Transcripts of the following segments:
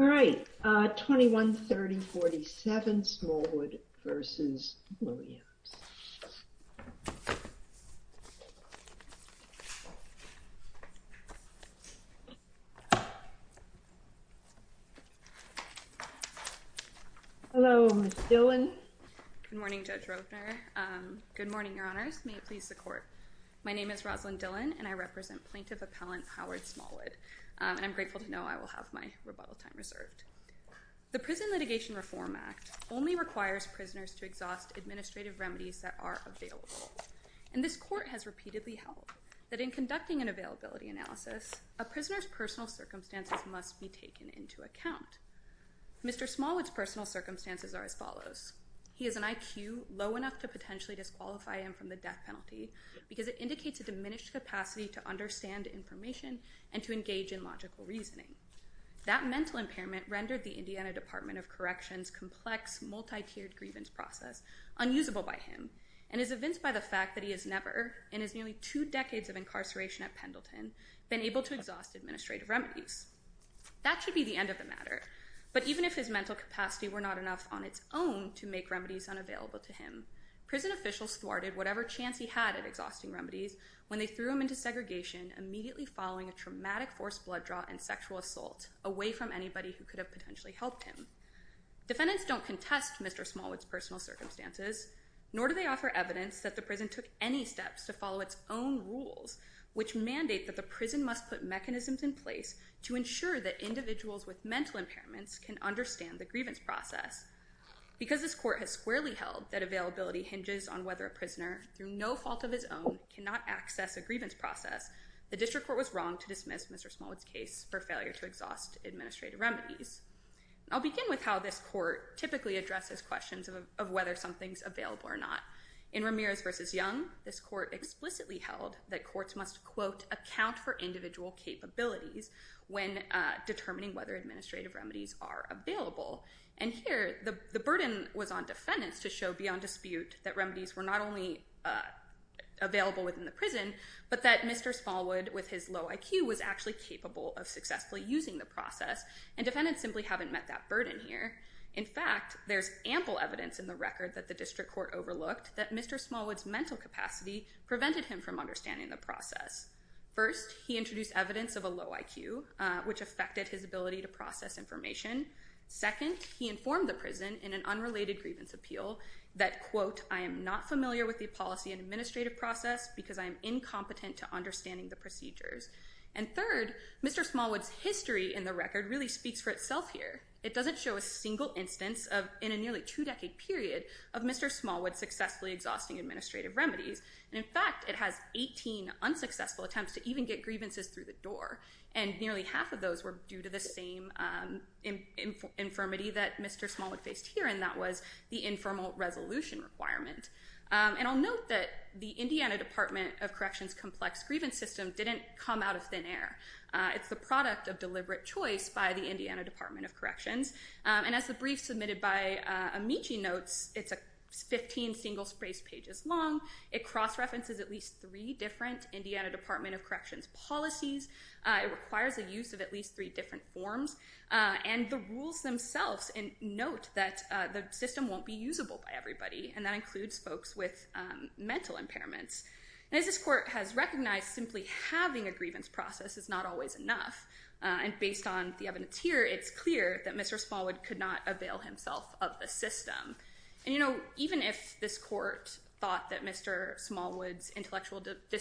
All right, 21-30-47 Smallwood v. Williams Hello, Ms. Dillard, Ms. Dillard, Ms. Dillard, Good morning, Judge Robner. Good morning, Your Honors. My name is Rosalin Dillon and I represent Plaintiff Appellant Howard Smallwood. And I'm grateful to know I will have my rebuttal time reserved. The Prison Litigation Reform Act only requires prisoners to exhaust administrative remedies that are available. And this court has repeatedly held that in conducting an availability analysis, a prisoner's personal circumstances must be taken into account. Mr. Smallwood's personal circumstances are as follows. He has an IQ low enough to potentially disqualify him from the death penalty because it indicates a diminished capacity to understand information and to engage in logical reasoning. That mental impairment rendered the Indiana Department of Corrections' complex, multi-tiered grievance process unusable by him and is evinced by the fact that he has never, in his nearly two decades of incarceration at Pendleton, been able to exhaust administrative remedies. That should be the end of the matter. But even if his mental capacity were not enough on its own to make remedies unavailable to him, prison officials thwarted whatever chance he had at exhausting remedies when they threw him into segregation immediately following a traumatic forced blood draw and sexual assault away from anybody who could have potentially helped him. Defendants don't contest Mr. Smallwood's personal circumstances, nor do they offer evidence that the prison took any steps to follow its own rules, which mandate that the prison must put mechanisms in place to ensure that individuals with mental impairments can Because this court has squarely held that availability hinges on whether a prisoner, through no fault of his own, cannot access a grievance process, the district court was wrong to dismiss Mr. Smallwood's case for failure to exhaust administrative remedies. I'll begin with how this court typically addresses questions of whether something's available or not. In Ramirez v. Young, this court explicitly held that courts must, quote, account for individual capabilities when determining whether administrative remedies are available. And here, the burden was on defendants to show beyond dispute that remedies were not only available within the prison, but that Mr. Smallwood, with his low IQ, was actually capable of successfully using the process, and defendants simply haven't met that burden here. In fact, there's ample evidence in the record that the district court overlooked that Mr. Smallwood's mental capacity prevented him from understanding the process. First, he introduced evidence of a low IQ, which affected his ability to process information. Second, he informed the prison in an unrelated grievance appeal that, quote, I am not familiar with the policy and administrative process because I am incompetent to understanding the procedures. And third, Mr. Smallwood's history in the record really speaks for itself here. It doesn't show a single instance of, in a nearly two-decade period, of Mr. Smallwood successfully exhausting administrative remedies. And in fact, it has 18 unsuccessful attempts to even get grievances through the door. And nearly half of those were due to the same infirmity that Mr. Smallwood faced here, and that was the informal resolution requirement. And I'll note that the Indiana Department of Corrections Complex Grievance System didn't come out of thin air. It's the product of deliberate choice by the Indiana Department of Corrections. And as the brief submitted by Amici notes, it's 15 single-spaced pages long. It cross-references at least three different Indiana Department of Corrections policies. It requires the use of at least three different forms. And the rules themselves note that the system won't be usable by everybody, and that includes folks with mental impairments. And as this court has recognized, simply having a grievance process is not always enough. And based on the evidence here, it's clear that Mr. Smallwood could not avail himself of the system. And, you know, even if this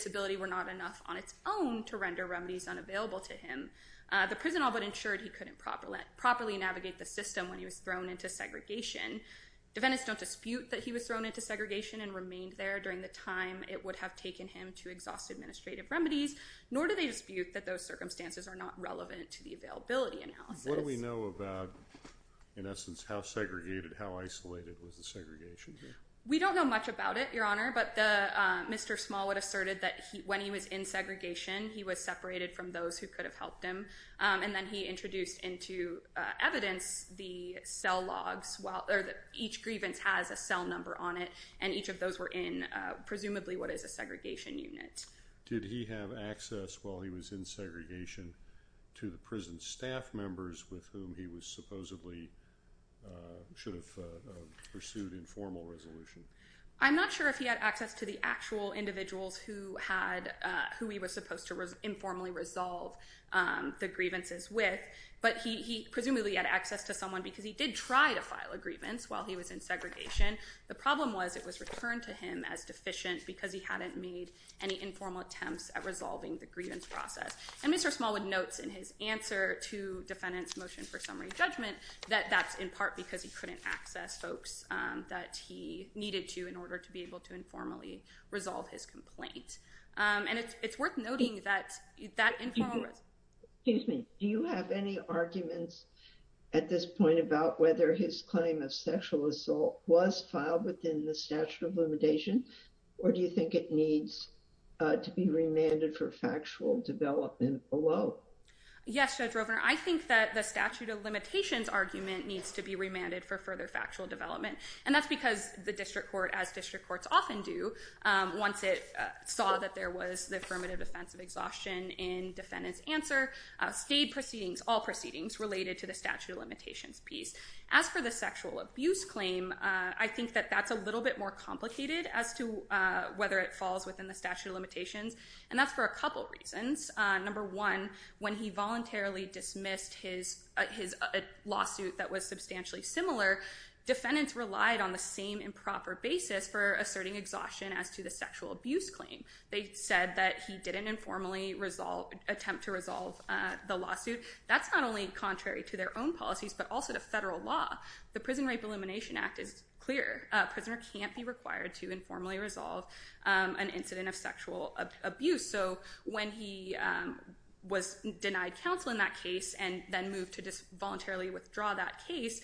ability were not enough on its own to render remedies unavailable to him, the prison all but ensured he couldn't properly navigate the system when he was thrown into segregation. Defendants don't dispute that he was thrown into segregation and remained there during the time it would have taken him to exhaust administrative remedies, nor do they dispute that those circumstances are not relevant to the availability analysis. What do we know about, in essence, how segregated, how isolated was the segregation here? We don't know much about it, Your Honor, but Mr. Smallwood asserted that when he was in segregation he was separated from those who could have helped him. And then he introduced into evidence the cell logs, or each grievance has a cell number on it, and each of those were in presumably what is a segregation unit. Did he have access while he was in segregation to the prison staff members with whom he was I'm not sure if he had access to the actual individuals who he was supposed to informally resolve the grievances with, but he presumably had access to someone because he did try to file a grievance while he was in segregation. The problem was it was returned to him as deficient because he hadn't made any informal attempts at resolving the grievance process. And Mr. Smallwood notes in his answer to defendant's motion for summary judgment that that's in needed to, in order to be able to informally resolve his complaint. And it's worth noting that that informal... Excuse me. Do you have any arguments at this point about whether his claim of sexual assault was filed within the statute of limitation, or do you think it needs to be remanded for factual development below? Yes, Judge Rovner. I think that the statute of limitations argument needs to be remanded for further factual development. And that's because the district court, as district courts often do, once it saw that there was the affirmative defense of exhaustion in defendant's answer, stayed proceedings, all proceedings, related to the statute of limitations piece. As for the sexual abuse claim, I think that that's a little bit more complicated as to whether it falls within the statute of limitations. And that's for a couple reasons. Number one, when he voluntarily dismissed his lawsuit that was substantially similar, defendants relied on the same improper basis for asserting exhaustion as to the sexual abuse claim. They said that he didn't informally attempt to resolve the lawsuit. That's not only contrary to their own policies, but also to federal law. The Prison Rape Elimination Act is clear. Prisoner can't be required to informally resolve an incident of sexual abuse. So when he was denied counsel in that case and then moved to just voluntarily withdraw that case,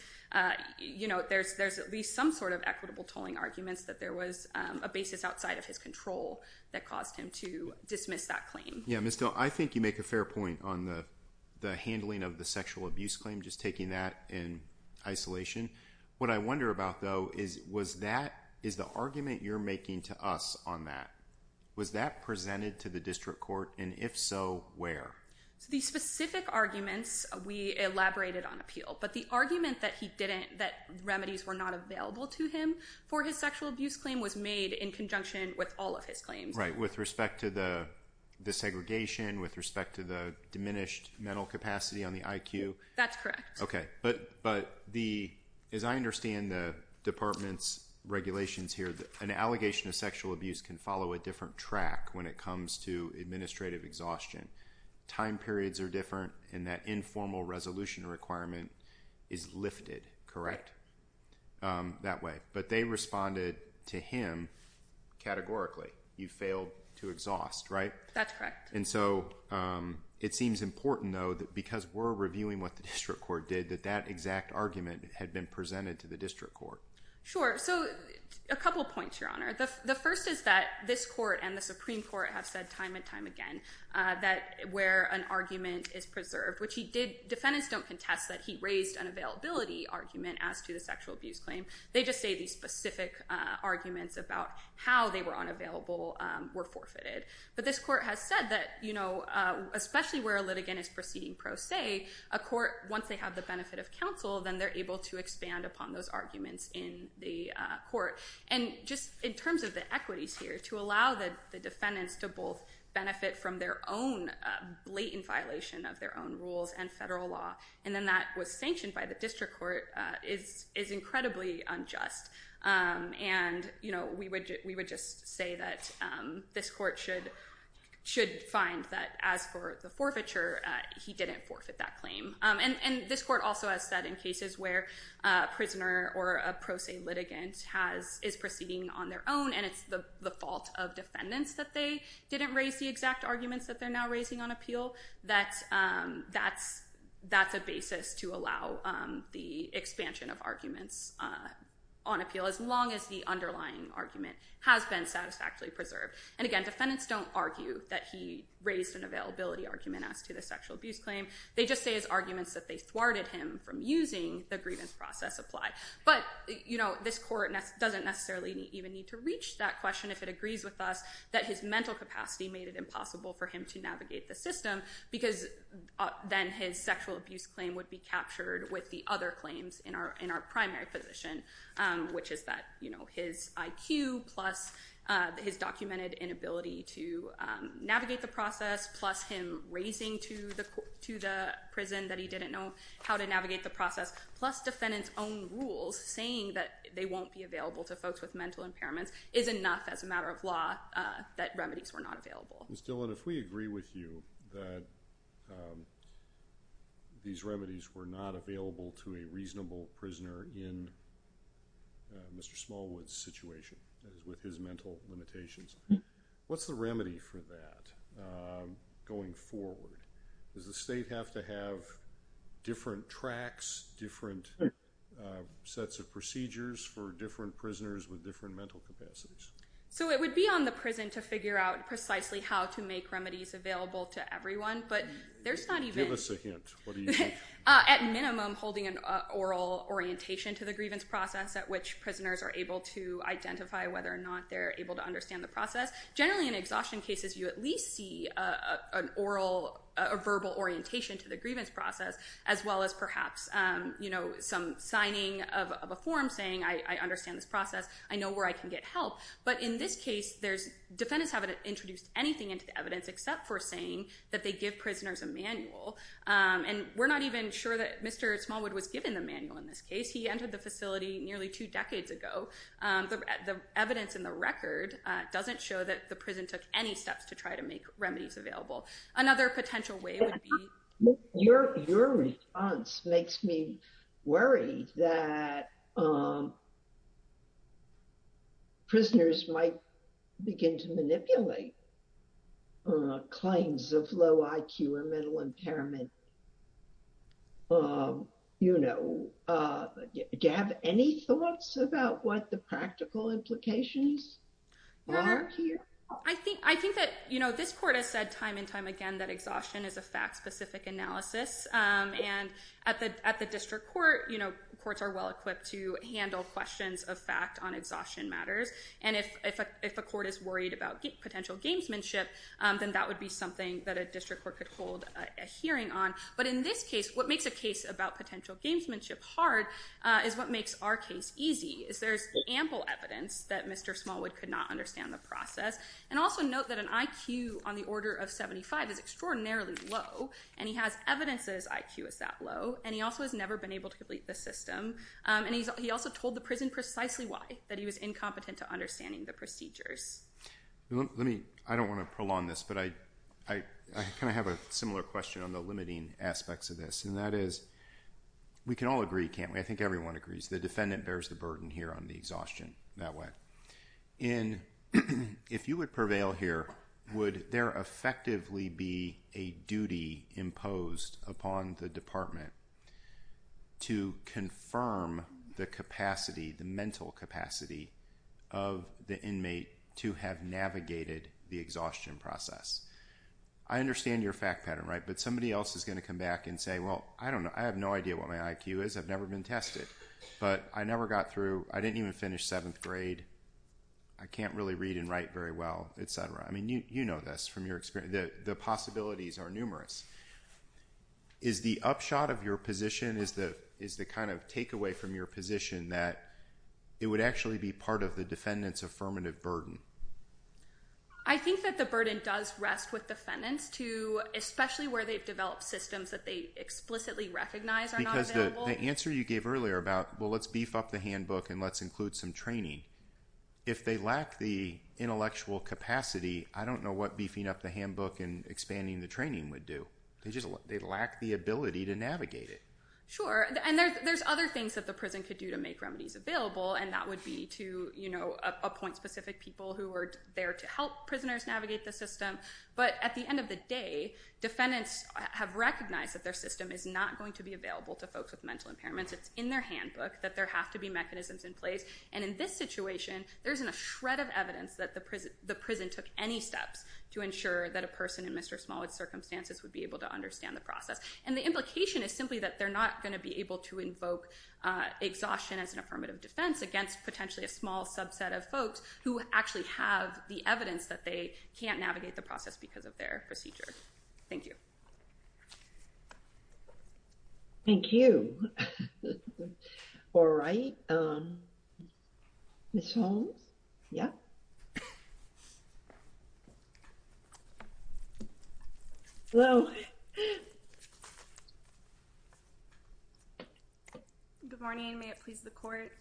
you know, there's at least some sort of equitable tolling arguments that there was a basis outside of his control that caused him to dismiss that claim. Yeah, Ms. Dill, I think you make a fair point on the handling of the sexual abuse claim, just taking that in isolation. What I wonder about, though, is was that, is the argument you're making to us on that, was that presented to the district court? And if so, where? The specific arguments we elaborated on appeal, but the argument that he didn't, that remedies were not available to him for his sexual abuse claim was made in conjunction with all of his claims. With respect to the segregation, with respect to the diminished mental capacity on the IQ? That's correct. Okay, but the, as I understand the department's regulations here, an allegation of sexual abuse can follow a different track when it comes to administrative exhaustion. Time periods are different and that informal resolution requirement is lifted, correct? That way. But they responded to him categorically. You failed to exhaust, right? That's correct. And so it seems important, though, that because we're reviewing what the district court did, that that exact argument had been presented to the district court. Sure. So a couple of points, Your Honor. The first is that this court and the Supreme Court have said time and time again that where an argument is preserved, which he did, defendants don't contest that he raised an availability argument as to the sexual abuse claim. They just say these specific arguments about how they were unavailable were forfeited. But this court has said that, you know, especially where a litigant is proceeding pro se, a court, once they have the benefit of counsel, then they're able to expand upon those arguments in the court. And just in terms of the equities here, to allow the defendants to both benefit from their own blatant violation of their own rules and federal law, and then that was sanctioned by the district court, is incredibly unjust. And, you know, we would just say that this court should find that as for the forfeiture, he didn't forfeit that claim. And this court also has said in cases where a prisoner or a pro se litigant is proceeding on their own and it's the fault of defendants that they didn't raise the exact arguments that they're now raising on appeal, that that's a basis to allow the expansion of arguments on appeal, as long as the underlying argument has been satisfactorily preserved. And again, defendants don't argue that he raised an availability argument as to the sexual abuse claim. They just say his arguments that they thwarted him from using the grievance process apply. But, you know, this court doesn't necessarily even need to reach that question if it agrees with us that his mental capacity made it impossible for him to navigate the system, because then his sexual abuse claim would be captured with the other claims in our primary position, which is that, you know, his IQ plus his documented inability to navigate the process, plus him raising to the prison that he didn't know how to navigate the process, plus defendants' own rules saying that they won't be available to folks with mental impairments is enough as a matter of law that remedies were not available. Ms. Dillon, if we agree with you that these remedies were not available to a reasonable prisoner in Mr. Smallwood's situation, that is, with his mental limitations, what's the remedy for that going forward? Does the state have to have different tracks, different sets of procedures for different prisoners with different mental capacities? So it would be on the prison to figure out precisely how to make remedies available to everyone, but there's not even... Give us a hint. What do you think? At minimum, holding an oral orientation to the grievance process at which prisoners are able to identify whether or not they're able to understand the process. Generally in exhaustion cases you at least see a verbal orientation to the grievance process, as well as perhaps some signing of a form saying, I understand this process, I know where I can get help. But in this case, defendants haven't introduced anything into the evidence except for saying that they give prisoners a manual. And we're not even sure that Mr. Smallwood was given the manual in this case. He entered the facility nearly two decades ago. The evidence in the record doesn't show that the prison took any steps to try to make remedies available. Another potential way would be... Your response makes me worry that prisoners might begin to manipulate claims of low IQ or mental impairment. Do you have any thoughts about what the practical implications are here? I think that this court has said time and time again that exhaustion is a fact-specific analysis. And at the district court, courts are well-equipped to handle questions of fact on exhaustion matters. And if a court is worried about potential gamesmanship, then that would be something that a district court could hold a hearing on. But in this case, what makes a case about potential gamesmanship hard is what makes our case easy. There's ample evidence that Mr. Smallwood could not understand the process. And also note that an IQ on the order of 75 is extraordinarily low. And he has evidence that his IQ is that low. And he also has never been able to complete the system. And he also told the prison precisely why, that he was incompetent to understanding the procedures. I don't want to prolong this, but I kind of have a similar question on the limiting aspects of this. And that is, we can all agree, can't we? I think everyone agrees the defendant bears the burden here on the exhaustion that way. And if you would prevail here, would there effectively be a duty imposed upon the department to confirm the capacity, the mental capacity of the inmate to have navigated the exhaustion process? I understand your fact pattern, right? But somebody else is going to come back and say, well, I don't know. I have no idea what my IQ is. I've never been tested. But I never got through. I didn't even finish seventh grade. I can't really read and write very well, et cetera. I mean, you know this from your experience. The possibilities are numerous. Is the upshot of your position, is the kind of takeaway from your position that it would actually be part of the defendant's affirmative burden? I think that the burden does rest with defendants, too, especially where they've developed systems that they explicitly recognize are not available. Because the answer you gave earlier about, well, let's beef up the handbook and let's include some training. If they lack the intellectual capacity, I don't know what beefing up the handbook and expanding the training would do. They lack the ability to navigate it. Sure. And there's other things that the prison could do to make remedies available. And that would be to appoint specific people who are there to help prisoners navigate the system. But at the end of the day, defendants have recognized that their system is not going to be available to folks with mental impairments. It's in their handbook that there have to be mechanisms in place. And in this situation, there isn't a shred of evidence that the prison took any steps to ensure that a person in Mr. Smallwood's circumstances would be able to understand the process. And the implication is simply that they're not going to be able to invoke exhaustion as an affirmative defense against potentially a small subset of folks who actually have the evidence that they can't navigate the process because of their procedure. Thank you. Thank you. All right. Ms. Holmes? Yeah? Good morning. May it please the court.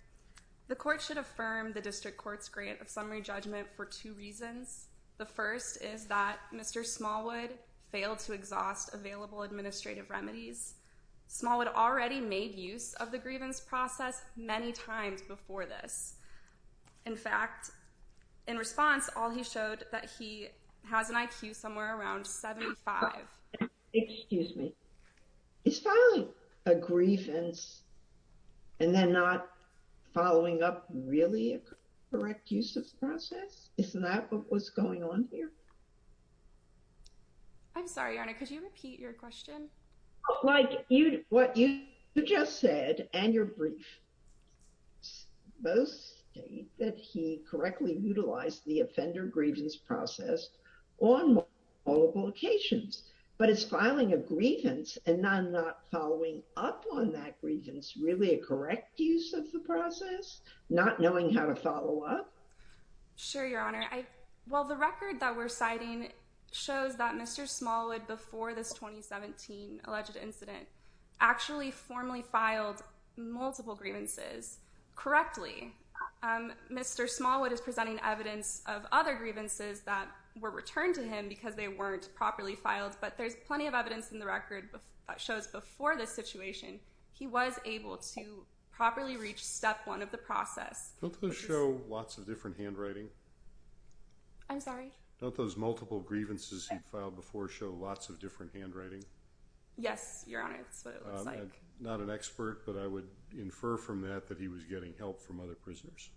The court should affirm the district court's grant of summary judgment for two reasons. The first is that Mr. Smallwood failed to exhaust available administrative remedies. Smallwood already made use of the grievance process many times before this. In fact, in response, all he showed that he has an IQ somewhere around 75. Excuse me. Is filing a grievance and then not following up really a correct use of the grievance process? Isn't that what was going on here? I'm sorry, Your Honor. Could you repeat your question? Like what you just said and your brief, both state that he correctly utilized the offender grievance process on multiple occasions. But is filing a grievance and then not following up on that grievance really a correct use of the process? Not knowing how to follow up? Sure, Your Honor. Well, the record that we're citing shows that Mr. Smallwood before this 2017 alleged incident actually formally filed multiple grievances correctly. Mr. Smallwood is presenting evidence of other grievances that were returned to him because they weren't properly filed. But there's plenty of evidence in the record that shows before this situation he was able to properly reach step one of the process. Don't those show lots of different handwriting? I'm sorry? Don't those multiple grievances he filed before show lots of different handwriting? Yes, Your Honor. That's what it looks like. Not an expert, but I would infer from that that he was getting help from other prisoners.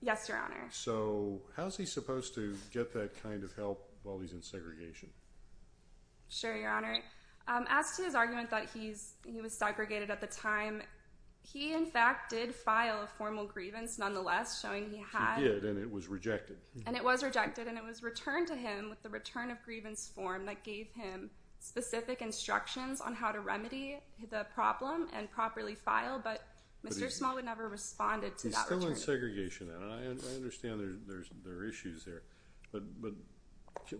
Yes, Your Honor. So how's he supposed to get that kind of help while he's in segregation? Sure, Your Honor. As to his argument that he was segregated at the time, he in fact did file a formal grievance nonetheless, showing he had... He did, and it was rejected. And it was rejected, and it was returned to him with the return of grievance form that gave him specific instructions on how to remedy the problem and properly file, but Mr. Smallwood never responded to that return. He was in segregation, and I understand there are issues there, but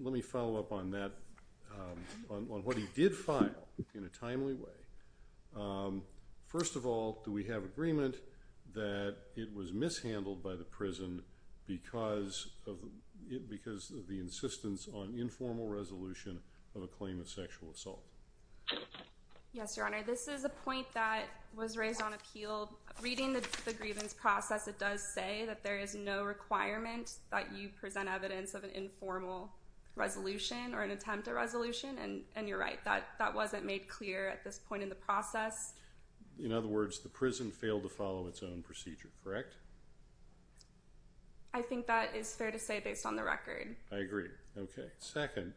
let me follow up on that, on what he did file in a timely way. First of all, do we have agreement that it was mishandled by the prison because of the insistence on informal resolution of a claim of sexual assault? Yes, Your Honor. This is a point that was raised on appeal. Reading the grievance process, it does say that there is no requirement that you present evidence of an informal resolution or an attempt at resolution, and you're right. That wasn't made clear at this point in the process. In other words, the prison failed to follow its own procedure, correct? I think that is fair to say based on the record. I agree. Okay. Second,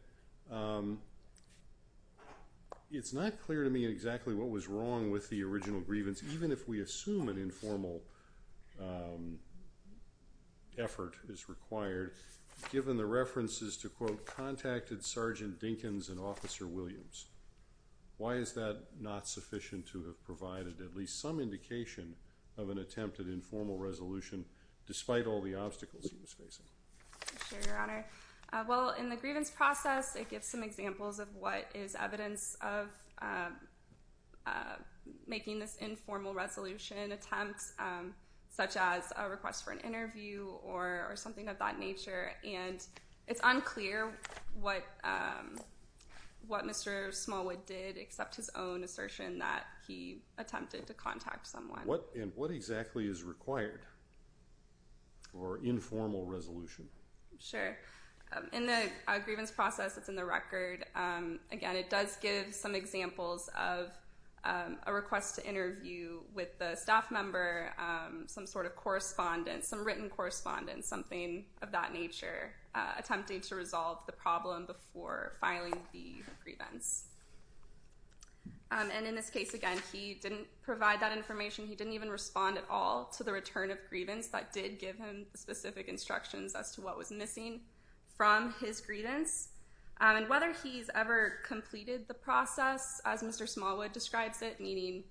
it's not clear to me exactly what was wrong with the original grievance, even if we assume an informal effort is required, given the references to, quote, contacted Sergeant Dinkins and Officer Williams. Why is that not sufficient to have provided at least some indication of an attempt at informal resolution, despite all the obstacles he was facing? Sure, Your Honor. Well, in the grievance process, it gives some examples of what is evidence of making this an informal resolution attempt, such as a request for an interview or something of that nature. And it's unclear what Mr. Smallwood did except his own assertion that he attempted to contact someone. And what exactly is required for informal resolution? Sure. In the grievance process that's in the record, again, it does give some examples of a request to interview with the staff member, some sort of correspondence, some written correspondence, something of that nature, attempting to resolve the problem before filing the grievance. And in this case, again, he didn't provide that information. He didn't even respond at all to the return of grievance that did give him specific instructions as to what was missing from his grievance. And whether he's ever completed the process, as Mr. Smallwood describes it, meaning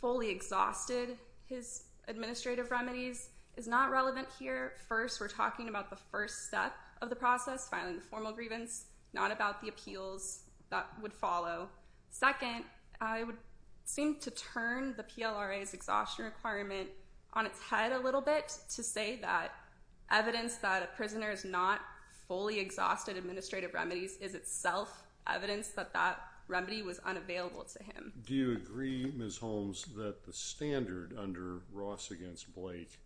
fully exhausted his administrative remedies, is not relevant here. First, we're talking about the first step of the process, filing the formal grievance, not about the appeals that would follow. Second, I would seem to turn the PLRA's exhaustion requirement on its head a little bit to say that evidence that a prisoner is not fully exhausted administrative remedies is itself evidence that that remedy was unavailable to him. Do you agree, Ms. Holmes, that the standard under Ross against Blake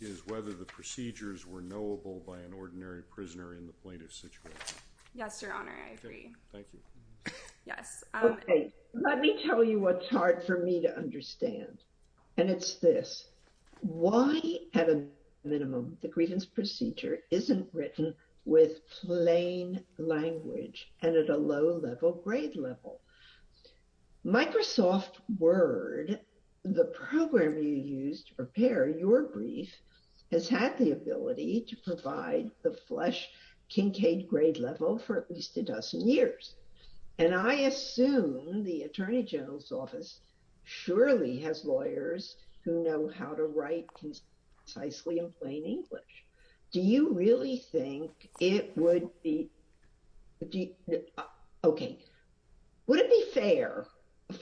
is whether the procedures were knowable by an ordinary prisoner in the plaintiff's situation? Yes, Your Honor, I agree. Thank you. Yes. Okay. Let me tell you what's hard for me to understand, and it's this. Why, at a minimum, the grievance procedure isn't written with plain language and at a low-level grade level? Microsoft Word, the program you used to prepare your brief, has had the ability to provide the flush Kincaid grade level for at least a dozen years. And I assume the Attorney General's Office surely has lawyers who know how to write precisely in plain English. Do you really think it would be—okay, would it be fair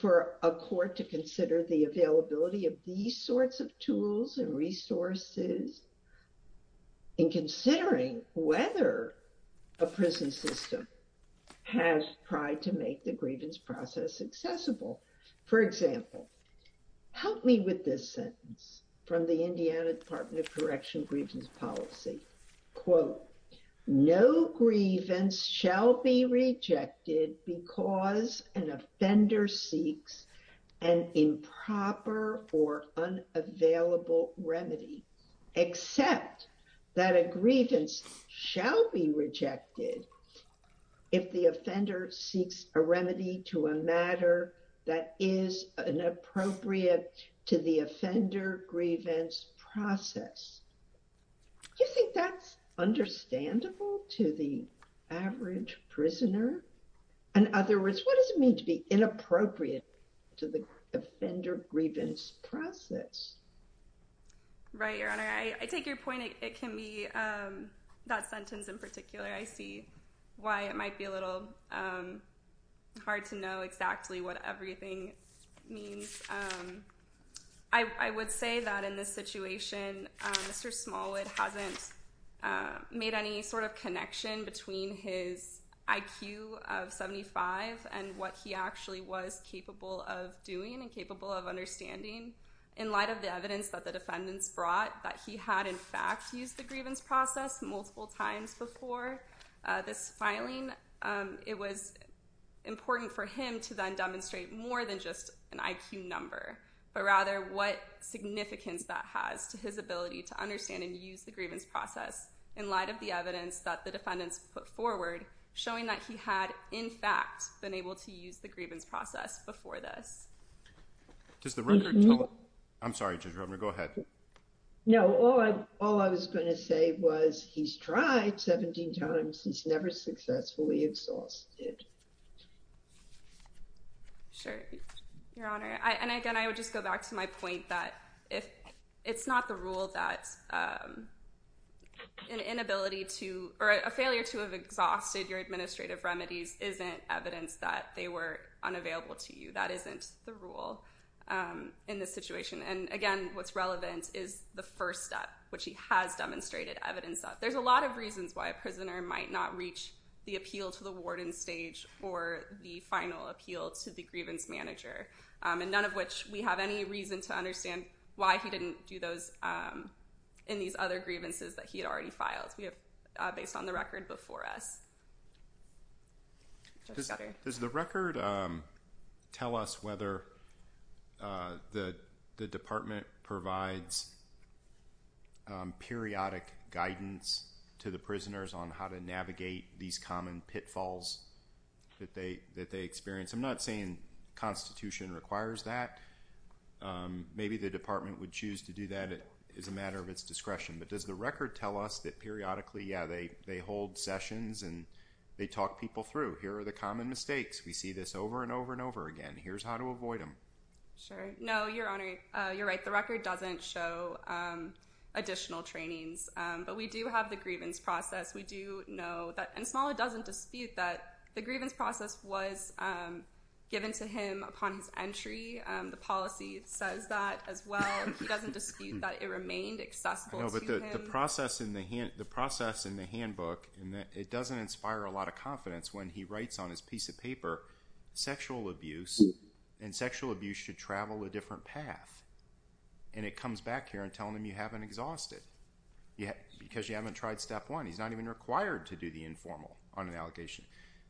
for a court to consider the availability of these sorts of tools and resources in considering whether a prison system has tried to make the grievance process accessible? For example, help me with this sentence from the Indiana Department of Correction Grievance or unavailable remedy, except that a grievance shall be rejected if the offender seeks a remedy to a matter that is inappropriate to the offender grievance process. Do you think that's understandable to the average prisoner? In other words, what does it mean to be inappropriate to the offender grievance process? Right, Your Honor, I take your point. It can be that sentence in particular. I see why it might be a little hard to know exactly what everything means. I would say that in this situation, Mr. Smallwood hasn't made any sort of connection between his IQ of 75 and what he actually was capable of doing and capable of understanding. In light of the evidence that the defendants brought that he had in fact used the grievance process multiple times before this filing, it was important for him to then demonstrate more than just an IQ number, but rather what significance that has to his ability to understand and use the grievance process in light of the evidence that the defendants put forward showing that he had, in fact, been able to use the grievance process before this. Does the record tell? I'm sorry, Judge Romer. Go ahead. No. All I was going to say was he's tried 17 times. He's never successfully exhausted. Sure, Your Honor. And again, I would just go back to my point that it's not the rule that a failure to have exhausted your administrative remedies isn't evidence that they were unavailable to you. That isn't the rule in this situation. And again, what's relevant is the first step, which he has demonstrated evidence of. There's a lot of reasons why a prisoner might not reach the appeal to the warden stage or the final appeal to the grievance manager, and none of which we have any reason to understand why he didn't do those in these other grievances that he had already filed based on the record before us. Judge Scudder. Does the record tell us whether the department provides periodic guidance to the prisoners on how to navigate these common pitfalls that they experience? I'm not saying Constitution requires that. Maybe the department would choose to do that as a matter of its discretion. But does the record tell us that periodically, yeah, they hold sessions and they talk people through, here are the common mistakes. We see this over and over and over again. Here's how to avoid them. Sure. No, Your Honor. You're right. The record doesn't show additional trainings. But we do have the grievance process. We do know that, and Smaller doesn't dispute that the grievance process was given to him upon his entry. The policy says that as well. He doesn't dispute that it remained accessible to him. I know, but the process in the handbook, it doesn't inspire a lot of confidence when he writes on his piece of paper, sexual abuse, and sexual abuse should travel a different path. And it comes back here and telling him you haven't exhausted, because you haven't tried step one. He's not even required to do the informal on an allegation.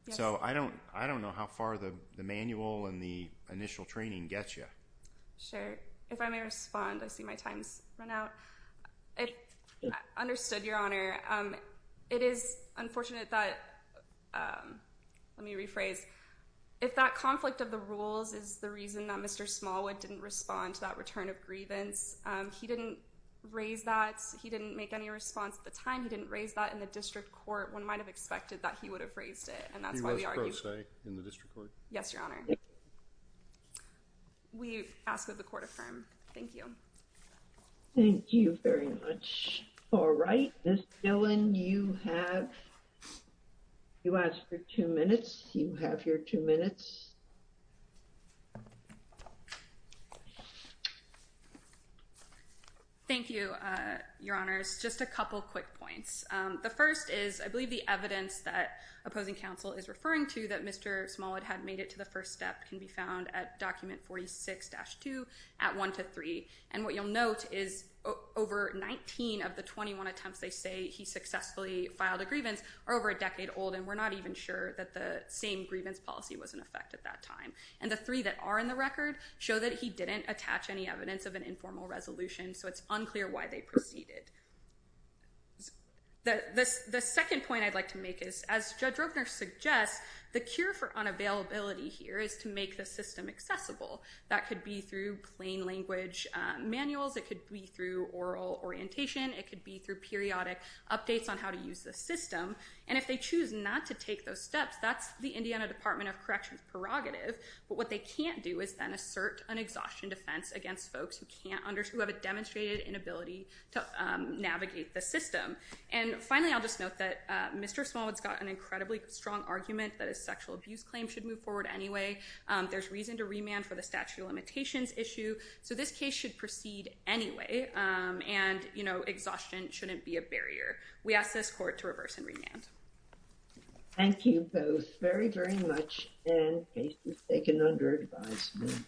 Yes. So I don't know how far the manual and the initial training gets you. Sure. If I may respond, I see my time's run out. I understood, Your Honor. It is unfortunate that, let me rephrase, if that conflict of the rules is the reason that Mr. Smallwood didn't respond to that return of grievance, he didn't raise that, he didn't make any response at the time, he didn't raise that in the district court, one might have expected that he would have raised it. He was pro se in the district court? Yes, Your Honor. We ask that the court affirm. Thank you. Thank you very much. All right. Ms. Dillon, you have, you asked for two minutes, you have your two minutes. Thank you, Your Honors. Just a couple quick points. The first is, I believe the evidence that opposing counsel is referring to that Mr. Smallwood had made it to the first step can be found at document 46-2 at 1 to 3. And what you'll note is over 19 of the 21 attempts they say he successfully filed a settlement at that time. And the three that are in the record show that he didn't attach any evidence of an informal resolution, so it's unclear why they proceeded. The second point I'd like to make is, as Judge Roebner suggests, the cure for unavailability here is to make the system accessible. That could be through plain language manuals, it could be through oral orientation, it could be through periodic updates on how to use the system. And if they choose not to take those steps, that's the Indiana Department of Corrections prerogative, but what they can't do is then assert an exhaustion defense against folks who have a demonstrated inability to navigate the system. And finally, I'll just note that Mr. Smallwood's got an incredibly strong argument that his sexual abuse claim should move forward anyway. There's reason to remand for the statute of limitations issue, so this case should proceed anyway, and exhaustion shouldn't be a barrier. We ask this Court to reverse and remand. Thank you both very, very much, and case is taken under advisement.